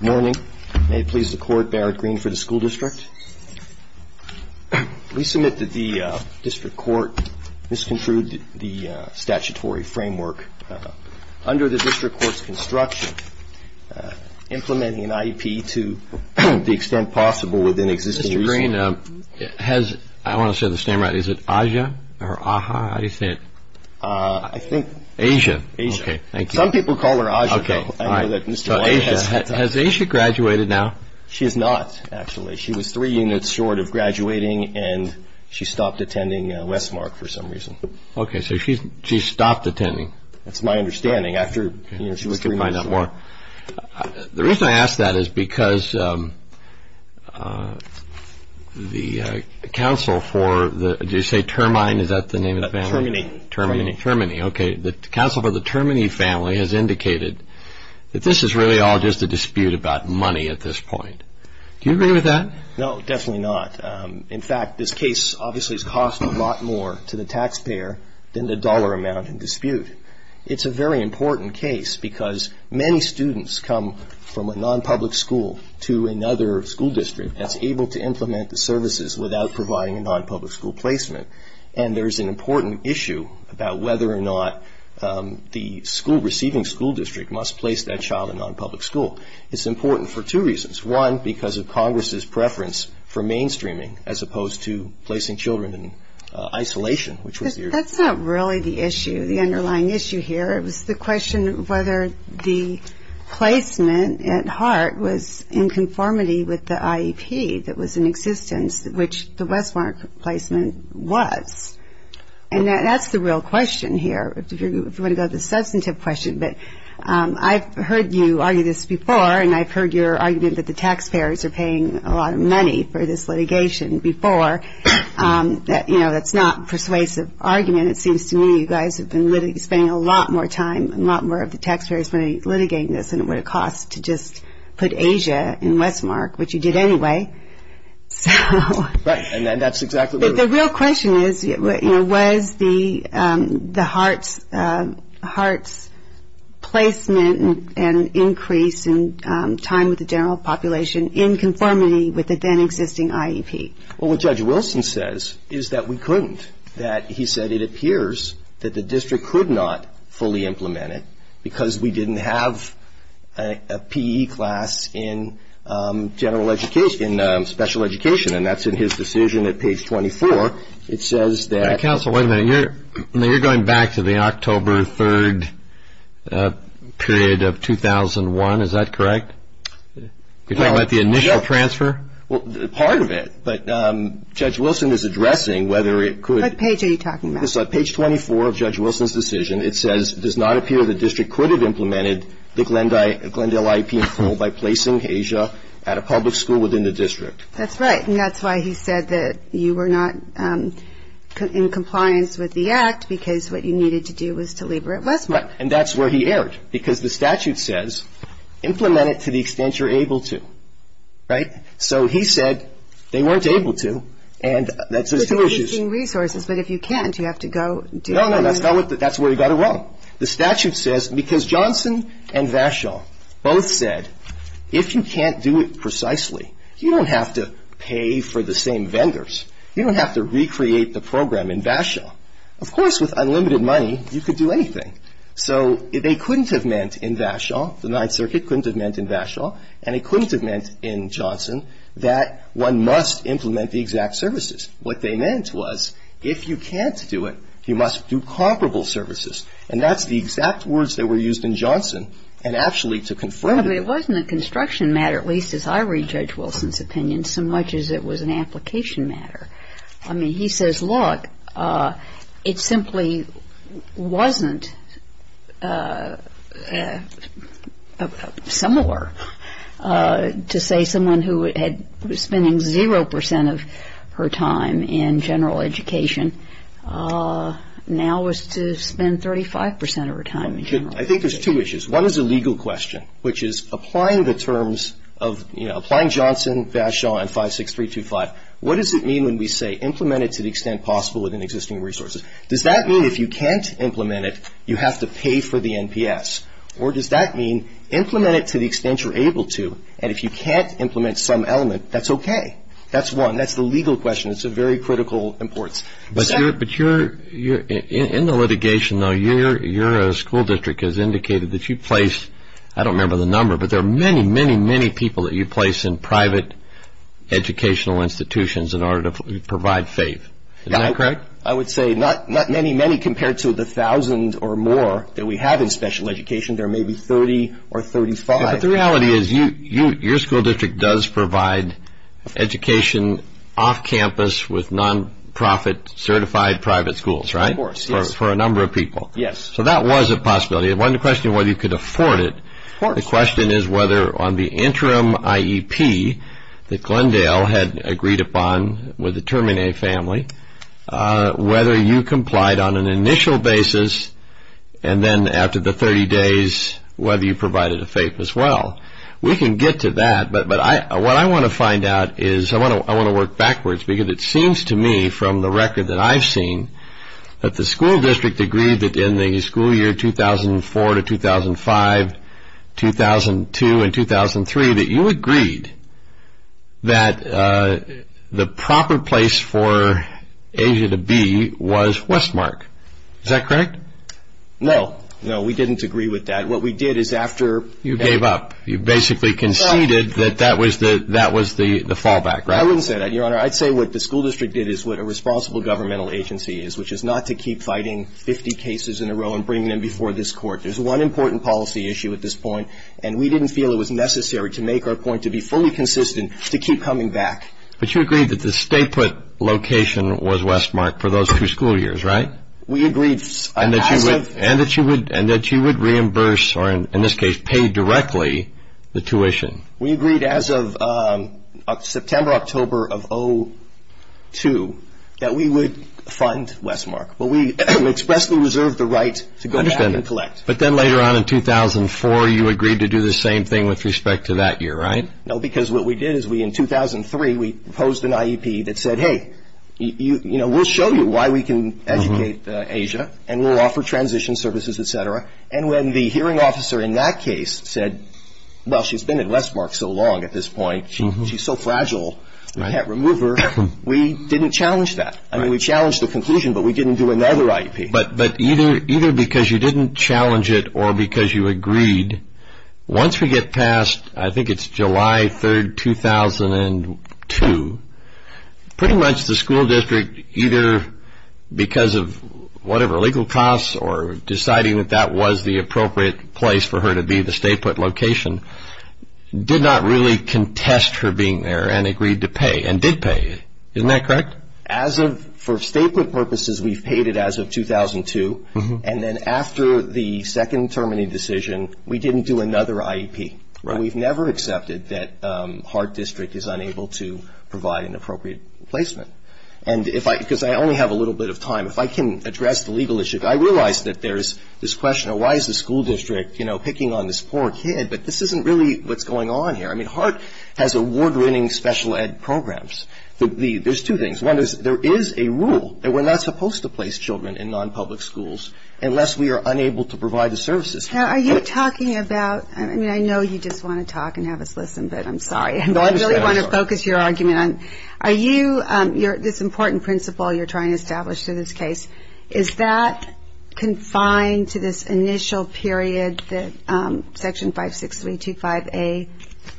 Morning. May it please the Court, Barrett Green for the School District. We submit that the District Court misconstrued the statutory framework. Under the District Court's construction, implementing an IEP to the extent possible within existing... Mr. Green, has... I want to say this name right. Is it Aja or Aja? How do you say it? I think... Aja. Aja. Okay, thank you. Some people call her Aja, though. Okay. I know that Mr. White has... Aja. Has Aja graduated now? She has not, actually. She was three units short of graduating and she stopped attending Westmark for some reason. Okay, so she stopped attending. That's my understanding. After, you know, she was three units short. The reason I ask that is because the council for the... Did you say Termine? Is that the name of the family? Termine. Termine. Termine, okay. The council for the Termine family has indicated that this is really all just a dispute about money at this point. Do you agree with that? No, definitely not. In fact, this case obviously has cost a lot more to the taxpayer than the dollar amount in dispute. It's a very important case because many students come from a non-public school to another school district that's able to implement the services without providing a non-public school placement. And there's an important issue about whether or not the school receiving school district must place that child in a non-public school. It's important for two reasons. One, because of Congress's preference for mainstreaming as opposed to placing children in isolation, which was the... That's not really the issue, the underlying issue here. It was the question whether the placement at heart was in conformity with the IEP that was in existence, which the Westmark placement was. And that's the real question here. If you want to go to the substantive question, but I've heard you argue this before, and I've heard your argument that the taxpayers are paying a lot of money for this litigation before. That's not a persuasive argument. It seems to me you guys have been spending a lot more time and a lot more of the taxpayers money litigating this than it would have cost to just put Asia in Westmark, which you did anyway. So... Right. And that's exactly what... But the real question is, you know, was the hearts placement and increase in time with the general population in conformity with the then existing IEP? Well, what Judge Wilson says is that we couldn't, that he said it appears that the district could not fully implement it because we didn't have a PE class in general education, special education. And that's in his decision at page 24. It says that... Counsel, wait a minute. You're going back to the October 3rd period of 2001. Is that correct? You're talking about the initial transfer? Well, part of it. But Judge Wilson is addressing whether it could... What page are you talking about? Page 24 of Judge Wilson's decision. It says it does not appear the district could have implemented the Glendale IEP by placing Asia at a public school within the district. That's right. And that's why he said that you were not in compliance with the act because what you needed to do was to leave her at Westmark. Right. And that's where he erred because the statute says, implement it to the extent you're able to. Right? So he said they weren't able to. And that's two issues. You're taking resources, but if you can't, you have to go... No, no, that's where he got it wrong. The statute says, because Johnson and Vachon both said, if you can't do it precisely, you don't have to pay for the same vendors. You don't have to recreate the program in Vachon. Of course, with unlimited money, you could do anything. So they couldn't have meant in Vachon, the Ninth Circuit couldn't have meant in Vachon, and it couldn't have meant in Johnson that one must implement the exact services. What they meant was, if you can't do it, you must do comparable services. And that's the exact words that were used in Johnson, and actually to confirm... I mean, it wasn't a construction matter, at least as I read Judge Wilson's opinion, so much as it was an application matter. I mean, he says, look, it simply wasn't similar to say someone who was spending 0% of her time in general education now was to spend 35% of her time in general education. I think there's two issues. One is a legal question, which is applying the terms of, you know, applying Johnson, Vachon, and 56325. What does it mean when we say implement it to the extent possible within existing resources? Does that mean if you can't implement it, you have to pay for the NPS? Or does that mean implement it to the extent you're able to, and if you can't implement some element, that's okay? That's one. That's the legal question. It's of very critical importance. But in the litigation, though, your school district has indicated that you placed, I don't remember the number, but there are many, many, many people that you place in private educational institutions in order to provide faith. Is that correct? I would say not many, many compared to the thousands or more that we have in special education. There may be 30 or 35. But the reality is your school district does provide education off campus with nonprofit certified private schools, right? Of course, yes. For a number of people. Yes. So that was a possibility. One question, whether you could afford it. The question is whether on the interim IEP that Glendale had agreed upon with the Terminator family, whether you complied on an initial basis, and then after the 30 days, whether you provided a faith as well. We can get to that. But what I want to find out is I want to work backwards because it seems to me from the record that I've seen that the school district agreed that in the school year 2004 to 2005, 2002 and 2003, that you agreed that the proper place for Asia to be was Westmark. Is that correct? No. No, we didn't agree with that. What we did is after... You gave up. You basically conceded that that was the fallback, right? I wouldn't say that, Your Honor. I'd say what the school district did is what a responsible governmental agency is, which is not to keep fighting 50 cases in a row and bring them before this court. There's one important policy issue at this point, and we didn't feel it was necessary to make our point to be fully consistent to keep coming back. But you agreed that the state put location was Westmark for those two school years, right? We agreed as of... We agreed as of September, October of 2002 that we would fund Westmark. But we expressly reserved the right to go back and collect. But then later on in 2004, you agreed to do the same thing with respect to that year, right? No, because what we did is in 2003, we proposed an IEP that said, hey, we'll show you why we can educate Asia, and we'll offer transition services, et cetera. And when the hearing officer in that case said, well, she's been at Westmark so long at this point, she's so fragile, we can't remove her, we didn't challenge that. I mean, we challenged the conclusion, but we didn't do another IEP. But either because you didn't challenge it or because you agreed, once we get past, I think it's July 3, 2002, pretty much the school district, either because of whatever legal costs or deciding that that was the appropriate place for her to be, the state put location, did not really contest her being there and agreed to pay and did pay. Isn't that correct? As of for state put purposes, we've paid it as of 2002. And then after the second term in the decision, we didn't do another IEP. And we've never accepted that Hart District is unable to provide an appropriate placement. Because I only have a little bit of time, if I can address the legal issue. I realize that there's this question of why is the school district, you know, picking on this poor kid, but this isn't really what's going on here. I mean, Hart has award-winning special ed programs. There's two things. One is there is a rule that we're not supposed to place children in non-public schools unless we are unable to provide the services. Are you talking about, I mean, I know you just want to talk and have us listen, but I'm sorry. No, I understand. I just want to focus your argument on are you, this important principle you're trying to establish to this case, is that confined to this initial period that Section 56325A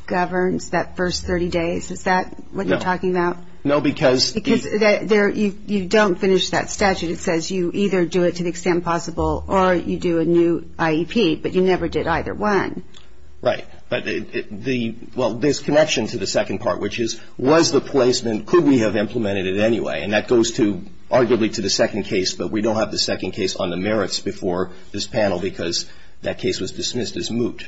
governs, that first 30 days? Is that what you're talking about? No, because. Because you don't finish that statute. It says you either do it to the extent possible or you do a new IEP, but you never did either one. Right. But the, well, there's connection to the second part, which is was the placement, could we have implemented it anyway? And that goes to, arguably, to the second case, but we don't have the second case on the merits before this panel because that case was dismissed as moot.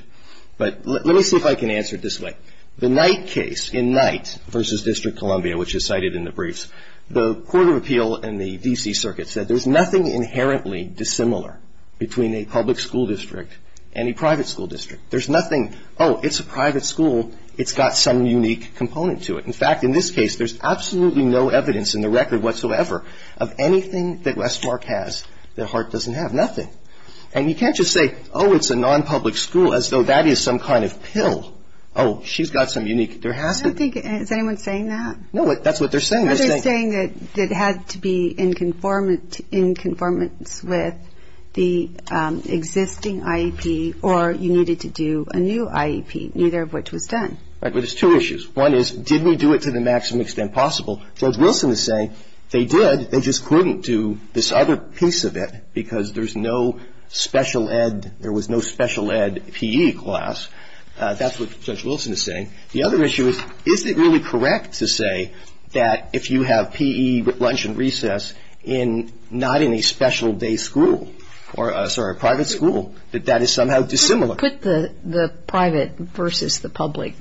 But let me see if I can answer it this way. The Knight case in Knight v. District Columbia, which is cited in the briefs, the Court of Appeal and the D.C. Circuit said there's nothing inherently dissimilar between a public school district and a private school district. There's nothing, oh, it's a private school, it's got some unique component to it. In fact, in this case, there's absolutely no evidence in the record whatsoever of anything that Westmark has that Hart doesn't have, nothing. And you can't just say, oh, it's a nonpublic school, as though that is some kind of pill. Oh, she's got some unique, there has to be. I don't think, is anyone saying that? No, that's what they're saying. They're saying that it had to be in conformance with the existing IEP or you needed to do a new IEP, neither of which was done. Right. But there's two issues. One is, did we do it to the maximum extent possible? Judge Wilson is saying they did, they just couldn't do this other piece of it because there's no special ed, there was no special ed PE class. That's what Judge Wilson is saying. The other issue is, is it really correct to say that if you have PE lunch and recess not in a special day school, sorry, a private school, that that is somehow dissimilar? Put the private versus the public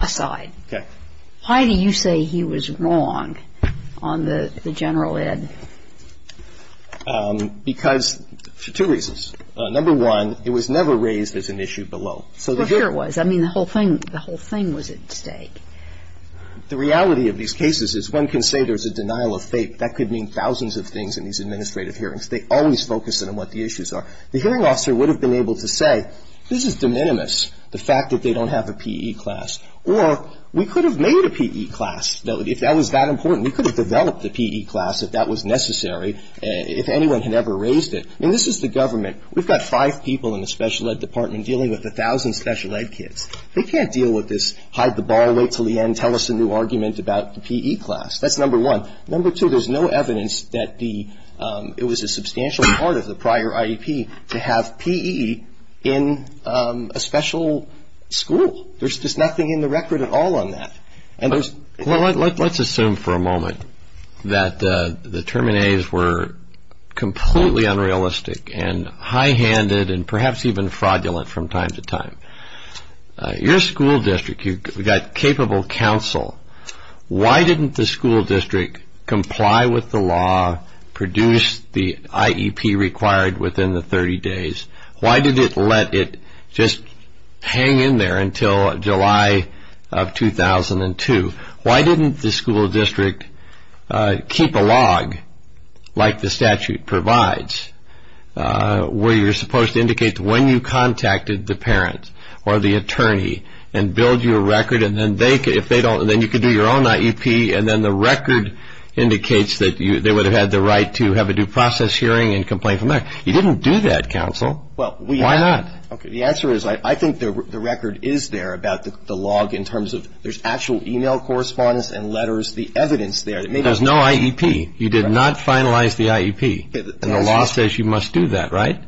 aside. Okay. Why do you say he was wrong on the general ed? Because for two reasons. Number one, it was never raised as an issue below. Well, here it was. I mean, the whole thing, the whole thing was at stake. The reality of these cases is one can say there's a denial of faith. That could mean thousands of things in these administrative hearings. They always focus on what the issues are. The hearing officer would have been able to say this is de minimis, the fact that they don't have a PE class. Or we could have made a PE class if that was that important. We could have developed the PE class if that was necessary, if anyone had ever raised it. I mean, this is the government. We've got five people in the special ed department dealing with a thousand special ed kids. They can't deal with this hide the ball, wait until the end, tell us a new argument about the PE class. That's number one. Number two, there's no evidence that it was a substantial part of the prior IEP to have PE in a special school. There's just nothing in the record at all on that. Well, let's assume for a moment that the terminators were completely unrealistic and high-handed and perhaps even fraudulent from time to time. Your school district, you've got capable counsel. Why didn't the school district comply with the law, produce the IEP required within the 30 days? Why did it let it just hang in there until July of 2002? Why didn't the school district keep a log like the statute provides where you're supposed to indicate when you contacted the parent or the attorney and build you a record, and then you could do your own IEP and then the record indicates that they would have had the right to have a due process hearing and complain from there. You didn't do that, counsel. Why not? The answer is I think the record is there about the log in terms of there's actual e-mail correspondence and letters, the evidence there. There's no IEP. You did not finalize the IEP, and the law says you must do that, right?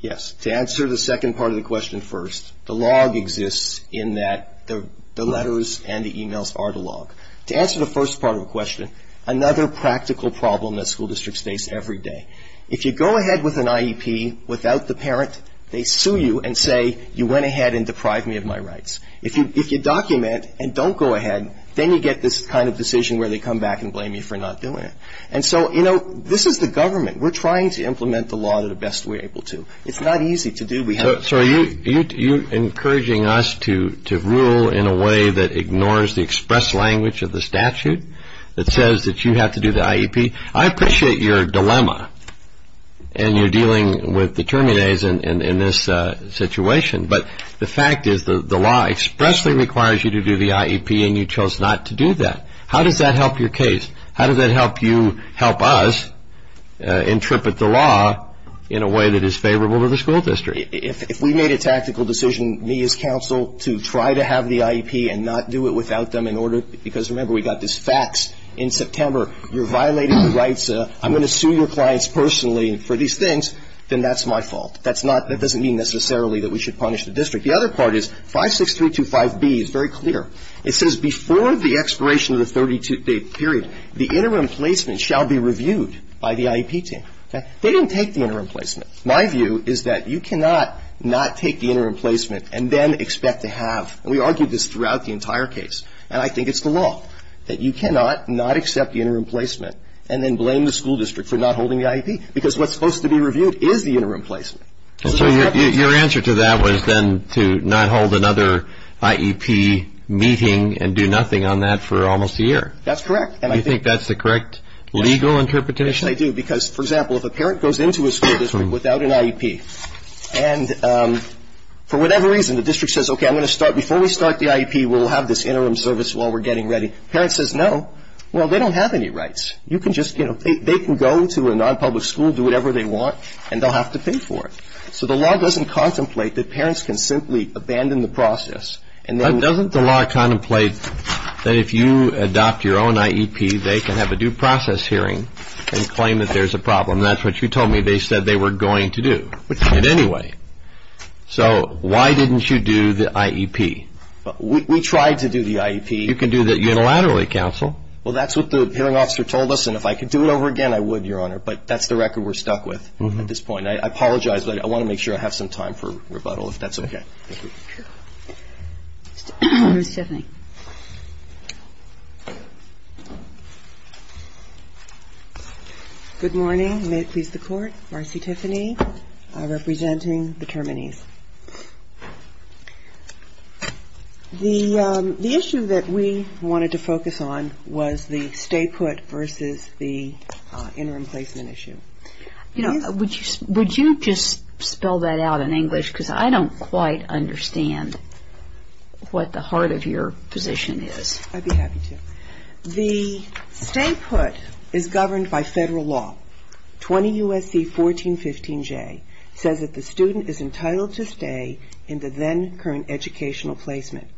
Yes. To answer the second part of the question first, the log exists in that the letters and the e-mails are the log. To answer the first part of the question, another practical problem that school districts face every day. If you go ahead with an IEP without the parent, they sue you and say you went ahead and deprived me of my rights. If you document and don't go ahead, then you get this kind of decision where they come back and blame you for not doing it. And so, you know, this is the government. We're trying to implement the law to the best we're able to. It's not easy to do. So are you encouraging us to rule in a way that ignores the express language of the statute that says that you have to do the IEP? I appreciate your dilemma, and you're dealing with the terminates in this situation, but the fact is the law expressly requires you to do the IEP, and you chose not to do that. How does that help your case? How does that help you help us interpret the law in a way that is favorable to the school district? If we made a tactical decision, me as counsel, to try to have the IEP and not do it without them in order, because remember, we got this fax in September, you're violating the rights, I'm going to sue your clients personally for these things, then that's my fault. That's not, that doesn't mean necessarily that we should punish the district. The other part is 56325B is very clear. It says before the expiration of the 32-day period, the interim placement shall be reviewed by the IEP team. Okay? They didn't take the interim placement. My view is that you cannot not take the interim placement and then expect to have, and we argued this throughout the entire case, and I think it's the law that you cannot not accept the interim placement and then blame the school district for not holding the IEP, because what's supposed to be reviewed is the interim placement. So your answer to that was then to not hold another IEP meeting and do nothing on that for almost a year. That's correct. Do you think that's the correct legal interpretation? I do, because, for example, if a parent goes into a school district without an IEP, and for whatever reason the district says, okay, I'm going to start, before we start the IEP, we'll have this interim service while we're getting ready. The parent says no. Well, they don't have any rights. You can just, you know, they can go to a non-public school, do whatever they want, and they'll have to pay for it. So the law doesn't contemplate that parents can simply abandon the process and then. Doesn't the law contemplate that if you adopt your own IEP, they can have a due process hearing and claim that there's a problem? That's what you told me. They said they were going to do it anyway. So why didn't you do the IEP? We tried to do the IEP. You can do that unilaterally, counsel. Well, that's what the hearing officer told us, and if I could do it over again, I would, Your Honor, but that's the record we're stuck with at this point. I apologize, but I want to make sure I have some time for rebuttal, if that's okay. Thank you. Ms. Chaffney. Good morning. May it please the Court. Marcy Tiffany representing the Terminees. The issue that we wanted to focus on was the stay put versus the interim placement issue. You know, would you just spell that out in English, because I don't quite understand what the heart of your position is. I'd be happy to. The stay put is governed by federal law. 20 U.S.C. 1415J says that the student is entitled to stay in the then current educational placement.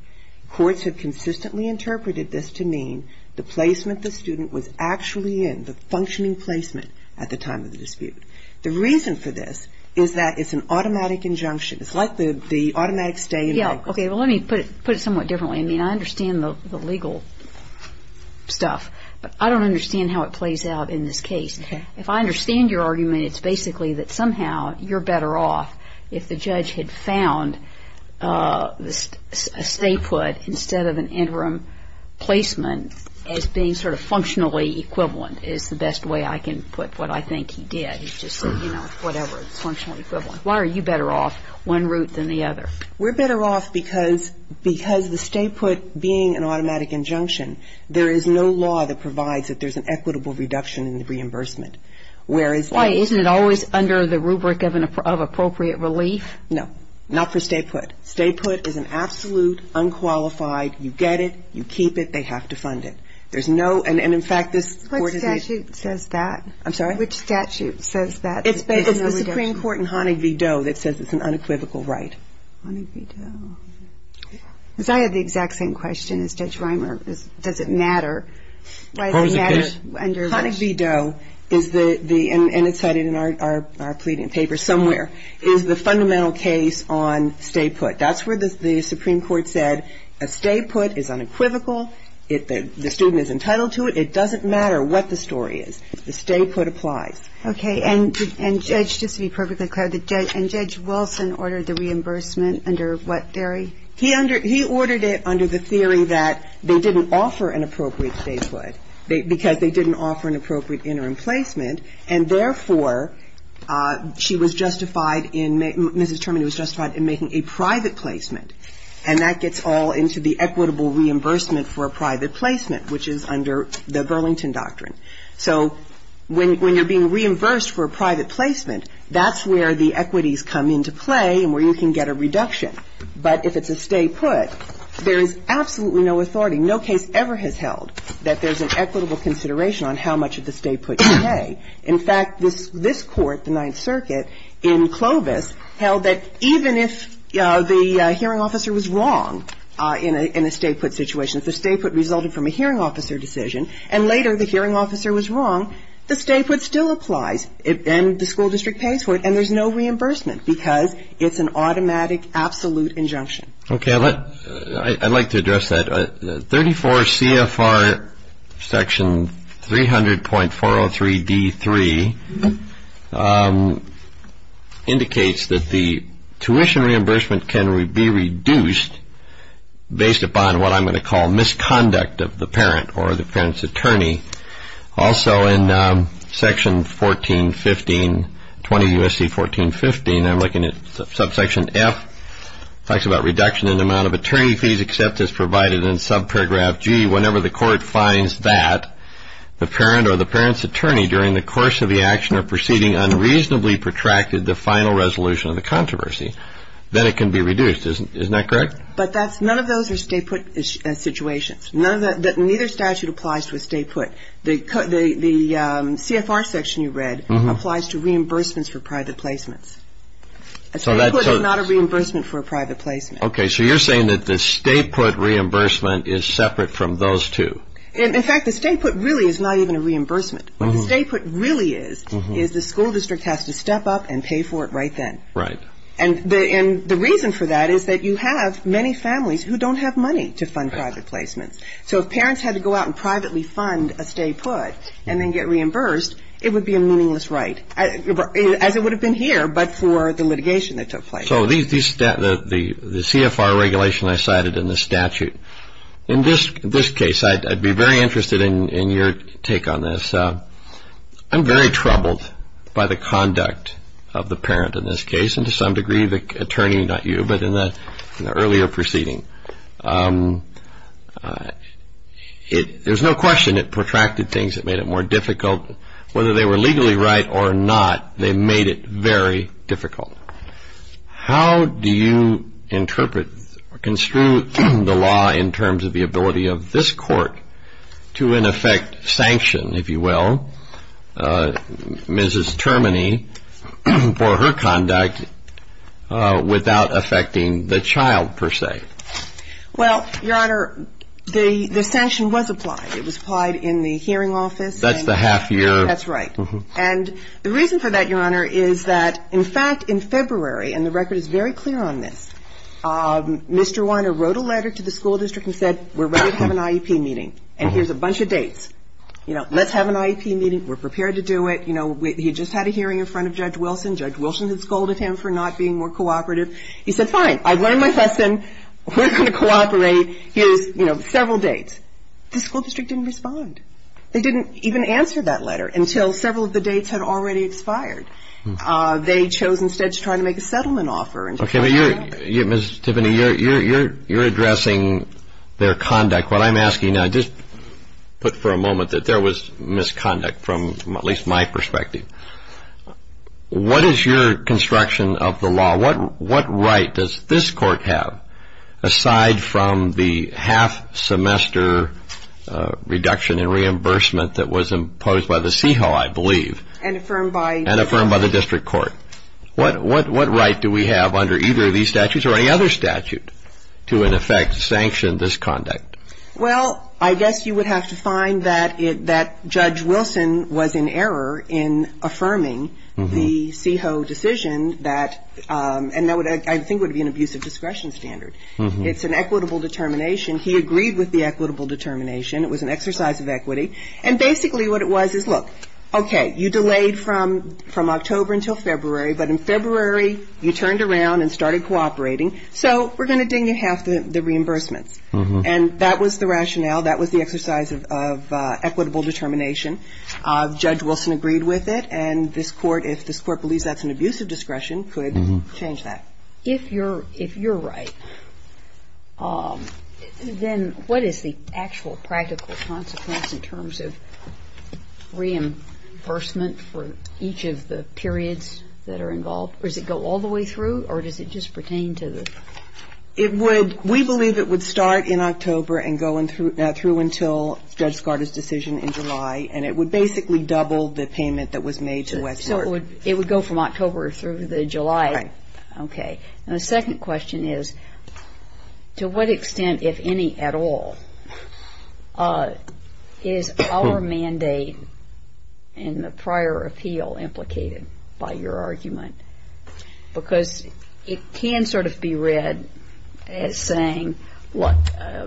Courts have consistently interpreted this to mean the placement the student was actually in, the functioning placement at the time of the dispute. The reason for this is that it's an automatic injunction. It's like the automatic stay. Okay. Well, let me put it somewhat differently. I mean, I understand the legal stuff, but I don't understand how it plays out in this case. If I understand your argument, it's basically that somehow you're better off if the judge had found a stay put instead of an interim placement as being sort of functionally equivalent is the best way I can put what I think he did. He just said, you know, whatever, it's functionally equivalent. Why are you better off one route than the other? We're better off because the stay put being an automatic injunction, there is no law that provides that there's an equitable reduction in the reimbursement. Why? Isn't it always under the rubric of appropriate relief? No. Not for stay put. Stay put is an absolute unqualified, you get it, you keep it, they have to fund it. There's no, and in fact, this court is the What statute says that? I'm sorry? Which statute says that? It's the Supreme Court in Honig v. Doe that says it's an unequivocal right. Honig v. Doe. Because I had the exact same question as Judge Reimer. Does it matter? Honig v. Doe is the, and it's cited in our pleading paper somewhere, is the fundamental case on stay put. That's where the Supreme Court said a stay put is unequivocal. The student is entitled to it. It doesn't matter what the story is. The stay put applies. Okay. And Judge, just to be perfectly clear, and Judge Wilson ordered the reimbursement under what theory? He ordered it under the theory that they didn't offer an appropriate stay put because they didn't offer an appropriate interim placement. And therefore, she was justified in, Mrs. Termini was justified in making a private placement, and that gets all into the equitable reimbursement for a private placement, which is under the Burlington Doctrine. So when you're being reimbursed for a private placement, that's where the equities come into play and where you can get a reduction. But if it's a stay put, there is absolutely no authority, no case ever has held that there's an equitable consideration on how much of the stay put you pay. In fact, this Court, the Ninth Circuit, in Clovis, held that even if the hearing officer was wrong in a stay put situation, if the stay put resulted from a hearing officer decision and later the hearing officer was wrong, the stay put still applies and the school district pays for it and there's no reimbursement because it's an automatic absolute injunction. Okay. I'd like to address that. 34 CFR section 300.403D3 indicates that the tuition reimbursement can be reduced based upon what I'm going to call misconduct of the parent or the parent's attorney. Also in section 1415, 20 U.S.C. 1415, I'm looking at subsection F. It talks about reduction in the amount of attorney fees except as provided in subparagraph G whenever the court finds that the parent or the parent's attorney during the course of the action or proceeding unreasonably protracted the final resolution of the controversy, then it can be reduced. Isn't that correct? But none of those are stay put situations. Neither statute applies to a stay put. The CFR section you read applies to reimbursements for private placements. A stay put is not a reimbursement for a private placement. Okay. So you're saying that the stay put reimbursement is separate from those two. In fact, the stay put really is not even a reimbursement. What the stay put really is is the school district has to step up and pay for it right then. Right. And the reason for that is that you have many families who don't have money to fund private placements. So if parents had to go out and privately fund a stay put and then get reimbursed, it would be a meaningless right, as it would have been here, but for the litigation that took place. So the CFR regulation I cited in the statute, in this case, I'd be very interested in your take on this. I'm very troubled by the conduct of the parent in this case and to some degree the attorney, not you, but in the earlier proceeding. There's no question it protracted things. It made it more difficult. Whether they were legally right or not, they made it very difficult. How do you interpret or construe the law in terms of the ability of this court to, in effect, sanction, if you will, Mrs. Termini for her conduct without affecting the child, per se? Well, Your Honor, the sanction was applied. It was applied in the hearing office. That's the half year. That's right. And the reason for that, Your Honor, is that, in fact, in February, and the record is very clear on this, Mr. Weiner wrote a letter to the school district and said, we're ready to have an IEP meeting, and here's a bunch of dates. You know, let's have an IEP meeting. We're prepared to do it. You know, he just had a hearing in front of Judge Wilson. Judge Wilson had scolded him for not being more cooperative. He said, fine, I've learned my lesson. We're going to cooperate. Here's, you know, several dates. The school district didn't respond. They didn't even answer that letter until several of the dates had already expired. They chose instead to try to make a settlement offer. Okay, but you're, Mrs. Termini, you're addressing their conduct. What I'm asking now, just put for a moment that there was misconduct from at least my perspective. What is your construction of the law? What right does this court have aside from the half semester reduction in reimbursement that was imposed by the CEHO, I believe? And affirmed by? And affirmed by the district court. What right do we have under either of these statutes or any other statute to, in effect, sanction this conduct? Well, I guess you would have to find that Judge Wilson was in error in affirming the CEHO decision that, and that I think would be an abusive discretion standard. It's an equitable determination. He agreed with the equitable determination. It was an exercise of equity. And basically what it was is, look, okay, you delayed from October until February. But in February, you turned around and started cooperating. So we're going to ding you half the reimbursements. And that was the rationale. That was the exercise of equitable determination. Judge Wilson agreed with it. And this court, if this court believes that's an abusive discretion, could change that. If you're right, then what is the actual practical consequence in terms of reimbursement for each of the periods that are involved? Or does it go all the way through? Or does it just pertain to the? It would. We believe it would start in October and go through until Judge Skarda's decision in July. And it would basically double the payment that was made to Westmoreland. So it would go from October through the July. Right. Okay. And the second question is, to what extent, if any at all, is our mandate in the prior appeal implicated by your argument? Because it can sort of be read as saying, look,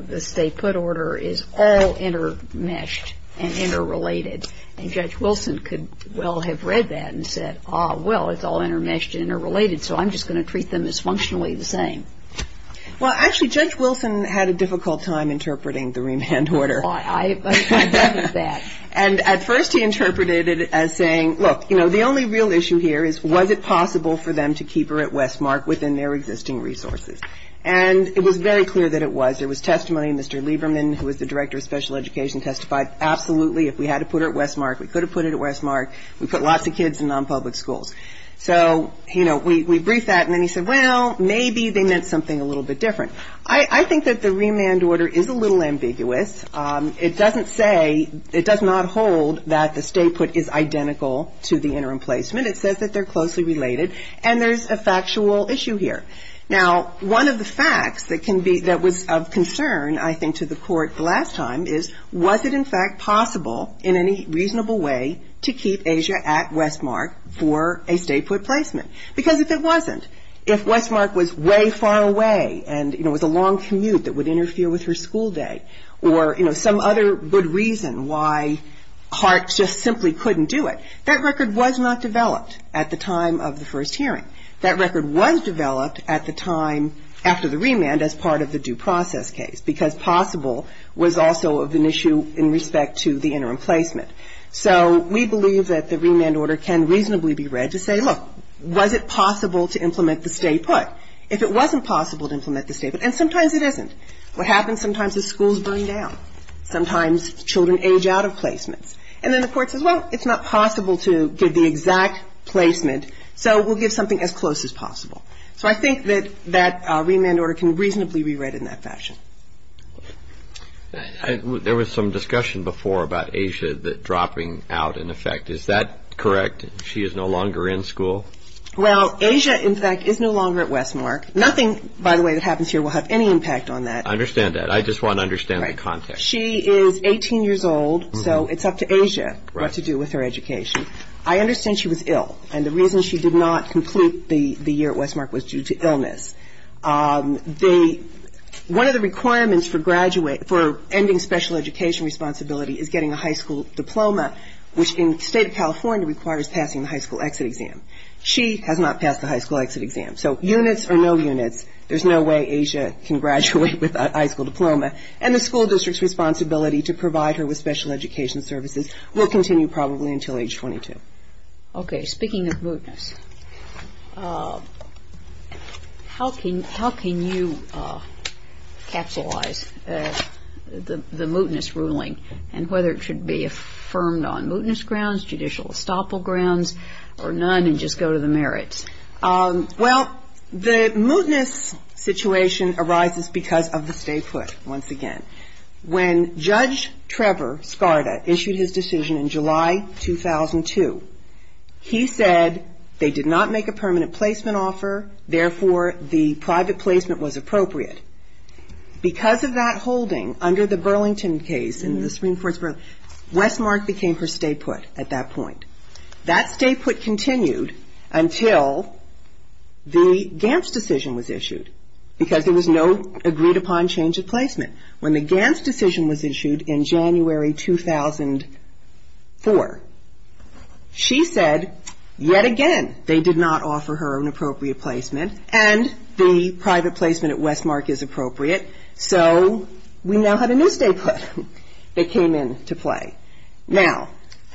the stay-put order is all intermeshed and interrelated. And Judge Wilson could well have read that and said, ah, well, it's all intermeshed and interrelated, so I'm just going to treat them as functionally the same. Well, actually, Judge Wilson had a difficult time interpreting the remand order. I know that. And at first he interpreted it as saying, look, you know, the only real issue here is, was it possible for them to keep her at Westmark within their existing resources? And it was very clear that it was. There was testimony. Mr. Lieberman, who was the director of special education, testified, absolutely, if we had to put her at Westmark, we could have put it at Westmark. We put lots of kids in nonpublic schools. So, you know, we briefed that. And then he said, well, maybe they meant something a little bit different. I think that the remand order is a little ambiguous. It doesn't say, it does not hold that the stay put is identical to the interim placement. It says that they're closely related. And there's a factual issue here. Now, one of the facts that can be, that was of concern, I think, to the court the last time is, was it in fact possible in any reasonable way to keep Asia at Westmark for a stay put placement? Because if it wasn't, if Westmark was way far away and, you know, there was a long commute that would interfere with her school day or, you know, some other good reason why Hart just simply couldn't do it, that record was not developed at the time of the first hearing. That record was developed at the time after the remand as part of the due process case, because possible was also of an issue in respect to the interim placement. So we believe that the remand order can reasonably be read to say, look, was it possible to implement the stay put? If it wasn't possible to implement the stay put, and sometimes it isn't, what happens sometimes is schools burn down. Sometimes children age out of placements. And then the court says, well, it's not possible to give the exact placement, so we'll give something as close as possible. So I think that that remand order can reasonably be read in that fashion. There was some discussion before about Asia dropping out, in effect. Is that correct? She is no longer in school? Well, Asia, in fact, is no longer at Westmark. Nothing, by the way, that happens here will have any impact on that. I understand that. I just want to understand the context. Right. She is 18 years old, so it's up to Asia what to do with her education. I understand she was ill, and the reason she did not complete the year at Westmark was due to illness. One of the requirements for ending special education responsibility is getting a high school diploma, which in the state of California requires passing the high school exit exam. She has not passed the high school exit exam. So units or no units, there's no way Asia can graduate without a high school diploma, and the school district's responsibility to provide her with special education services will continue probably until age 22. Okay. I don't know whether it should be affirmed on mootness grounds, judicial estoppel grounds, or none and just go to the merits. Well, the mootness situation arises because of the stay put, once again. When Judge Trevor Skarda issued his decision in July 2002, he said they did not make a permanent placement offer, therefore the private placement was appropriate. Because of that holding under the Burlington case in the Supreme Court, Westmark became her stay put at that point. That stay put continued until the Gants decision was issued, because there was no agreed upon change of placement. When the Gants decision was issued in January 2004, she said yet again they did not offer her an appropriate placement, and the private placement at Westmark is appropriate, so we now have a new stay put that came into play. Now,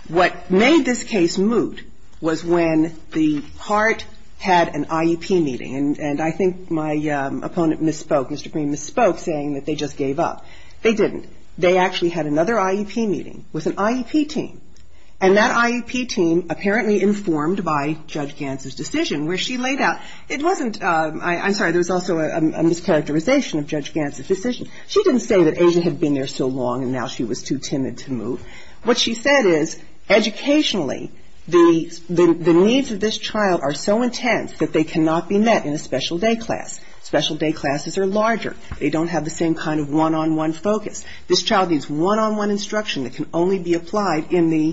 what made this case moot was when the HART had an IEP meeting, and I think my opponent misspoke, Mr. Green misspoke, saying that they just gave up. They didn't. They actually had another IEP meeting with an IEP team, and that IEP team, apparently informed by Judge Gant's decision, where she laid out, it wasn't, I'm sorry, there was also a mischaracterization of Judge Gant's decision. She didn't say that Asia had been there so long and now she was too timid to move. What she said is, educationally, the needs of this child are so intense that they cannot be met in a special day class. Special day classes are larger. They don't have the same kind of one-on-one focus. This child needs one-on-one instruction that can only be applied in the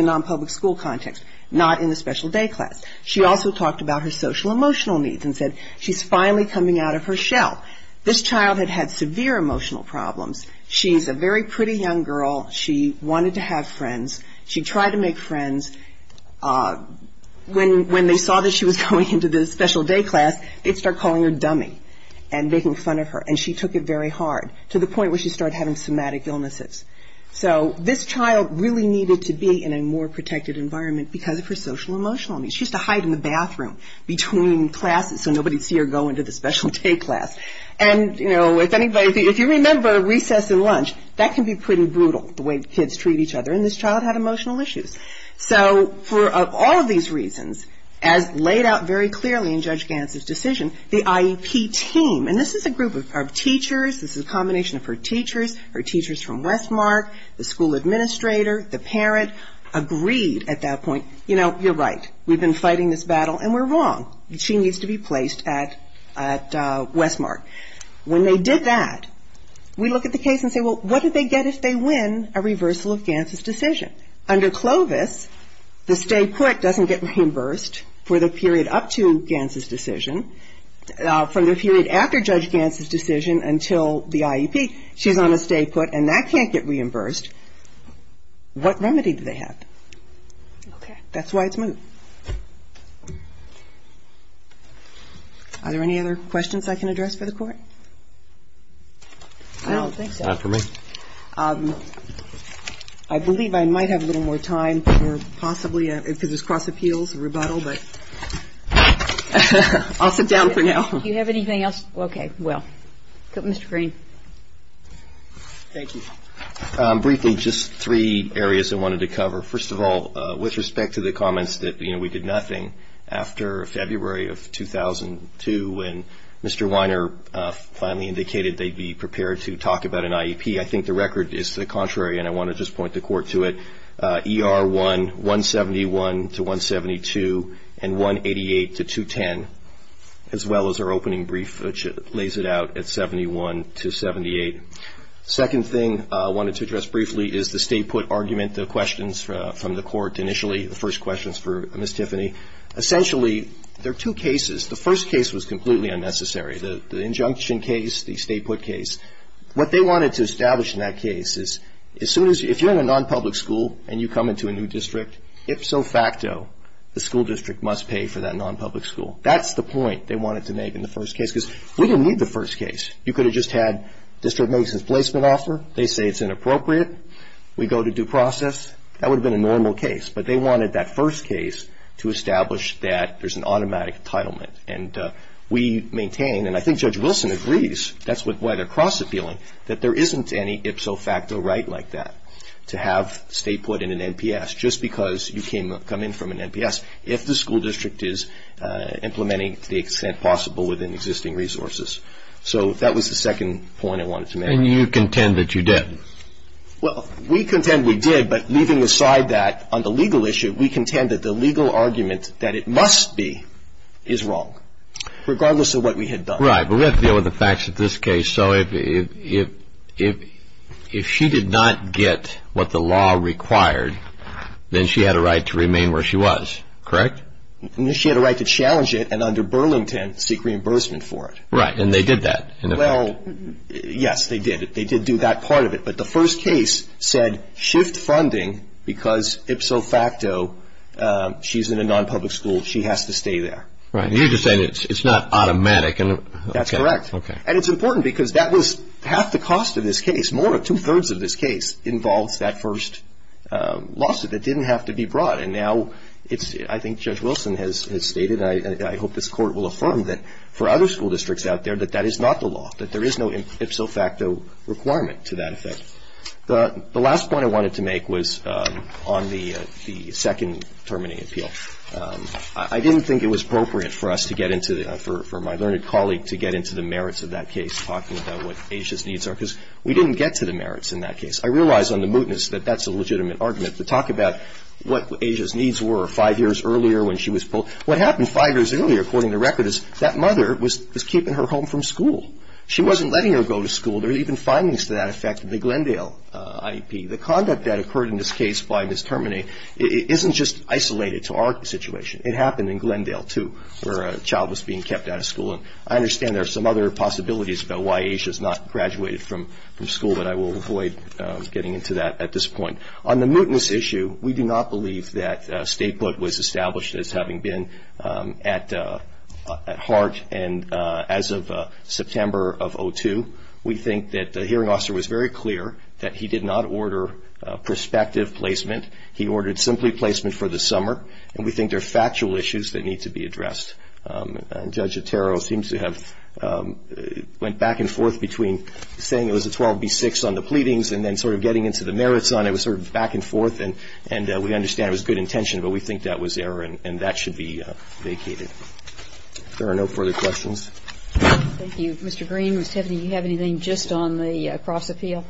non-public school context, not in the special day class. She also talked about her social-emotional needs and said she's finally coming out of her shell. This child had had severe emotional problems. She's a very pretty young girl. She wanted to have friends. She tried to make friends. When they saw that she was going into the special day class, they started calling her dummy and making fun of her, and she took it very hard to the point where she started having somatic illnesses. So this child really needed to be in a more protected environment because of her social-emotional needs. She used to hide in the bathroom between classes so nobody would see her go into the special day class. And, you know, if anybody, if you remember recess and lunch, that can be pretty brutal, the way kids treat each other, and this child had emotional issues. So for all of these reasons, as laid out very clearly in Judge Gant's decision, the IEP team, and this is a group of teachers, this is a combination of her teachers, her teachers from Westmark, the school administrator, the parent, agreed at that point, you know, you're right. We've been fighting this battle, and we're wrong. She needs to be placed at Westmark. When they did that, we look at the case and say, well, what do they get if they win a reversal of Gant's decision? Under Clovis, the stay put doesn't get reimbursed for the period up to Gant's decision. From the period after Judge Gant's decision until the IEP, she's on a stay put, and that can't get reimbursed. What remedy do they have? Okay. That's why it's moved. Are there any other questions I can address for the Court? I don't think so. Not for me. I believe I might have a little more time for possibly, because it's cross appeals, a rebuttal, but I'll sit down for now. Do you have anything else? Okay. Well, Mr. Green. Thank you. Briefly, just three areas I wanted to cover. First of all, with respect to the comments that, you know, we did nothing after February of 2002 when Mr. Weiner finally indicated they'd be prepared to talk about an IEP. I think the record is the contrary, and I want to just point the Court to it. ER1, 171 to 172, and 188 to 210, as well as our opening brief, which lays it out at 71 to 78. Second thing I wanted to address briefly is the stay put argument. The questions from the Court initially, the first question is for Ms. Tiffany. Essentially, there are two cases. The first case was completely unnecessary, the injunction case, the stay put case. What they wanted to establish in that case is as soon as you're in a nonpublic school and you come into a new district, ipso facto, the school district must pay for that nonpublic school. That's the point they wanted to make in the first case, because we didn't need the first case. You could have just had district magistrate's placement offer. They say it's inappropriate. We go to due process. That would have been a normal case. But they wanted that first case to establish that there's an automatic entitlement. And we maintain, and I think Judge Wilson agrees, that's why they're cross-appealing, that there isn't any ipso facto right like that to have stay put in an NPS, just because you come in from an NPS, if the school district is implementing to the extent possible within existing resources. So that was the second point I wanted to make. And you contend that you did? Well, we contend we did, but leaving aside that on the legal issue, we contend that the legal argument that it must be is wrong, regardless of what we had done. Right. But we have to deal with the facts of this case. So if she did not get what the law required, then she had a right to remain where she was, correct? She had a right to challenge it and under Burlington seek reimbursement for it. Right. And they did that, in effect. Well, yes, they did. They did do that part of it, but the first case said shift funding because ipso facto, she's in a non-public school, she has to stay there. Right. And you're just saying it's not automatic. That's correct. Okay. And it's important because that was half the cost of this case. More, two-thirds of this case involves that first lawsuit that didn't have to be brought. And now it's, I think Judge Wilson has stated, and I hope this Court will affirm that for other school districts out there, that that is not the law, that there is no ipso facto requirement to that effect. The last point I wanted to make was on the second terminating appeal. I didn't think it was appropriate for us to get into, for my learned colleague, to get into the merits of that case, talking about what Asia's needs are, because we didn't get to the merits in that case. I realize on the mootness that that's a legitimate argument to talk about what Asia's needs were five years earlier when she was pulled. What happened five years earlier, according to record, is that mother was keeping her home from school. She wasn't letting her go to school. There are even findings to that effect in the Glendale IEP. The conduct that occurred in this case by Ms. Termini isn't just isolated to our situation. It happened in Glendale, too, where a child was being kept out of school. And I understand there are some other possibilities about why Asia's not graduated from school, but I will avoid getting into that at this point. On the mootness issue, we do not believe that statehood was established as having been at heart. And as of September of 2002, we think that the hearing officer was very clear that he did not order prospective placement. He ordered simply placement for the summer, and we think there are factual issues that need to be addressed. Judge Otero seems to have went back and forth between saying it was a 12B6 on the pleadings and then sort of getting into the merits on it. It was sort of back and forth, and we understand it was good intention, but we think that was error, and that should be vacated. If there are no further questions. Thank you. Mr. Green, Ms. Tiffany, do you have anything just on the cross-appeal?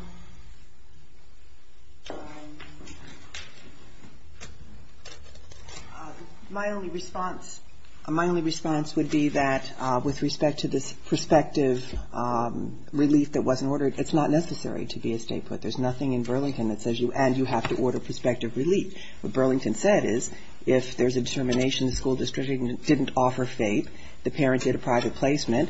My only response would be that with respect to this prospective relief that wasn't ordered, it's not necessary to be a statehood. There's nothing in Burlington that says you have to order prospective relief. What Burlington said is if there's a determination the school district didn't offer FAPE, the parent did a private placement,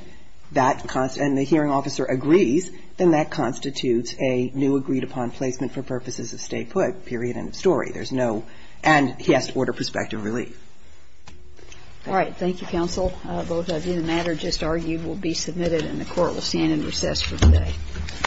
and the hearing officer agrees, then that constitutes a new agreed-upon placement for purposes of statehood, period, end of story. There's no, and he has to order prospective relief. All right. Thank you, counsel. Both of you. The matter just argued will be submitted, and the Court will stand in recess for today.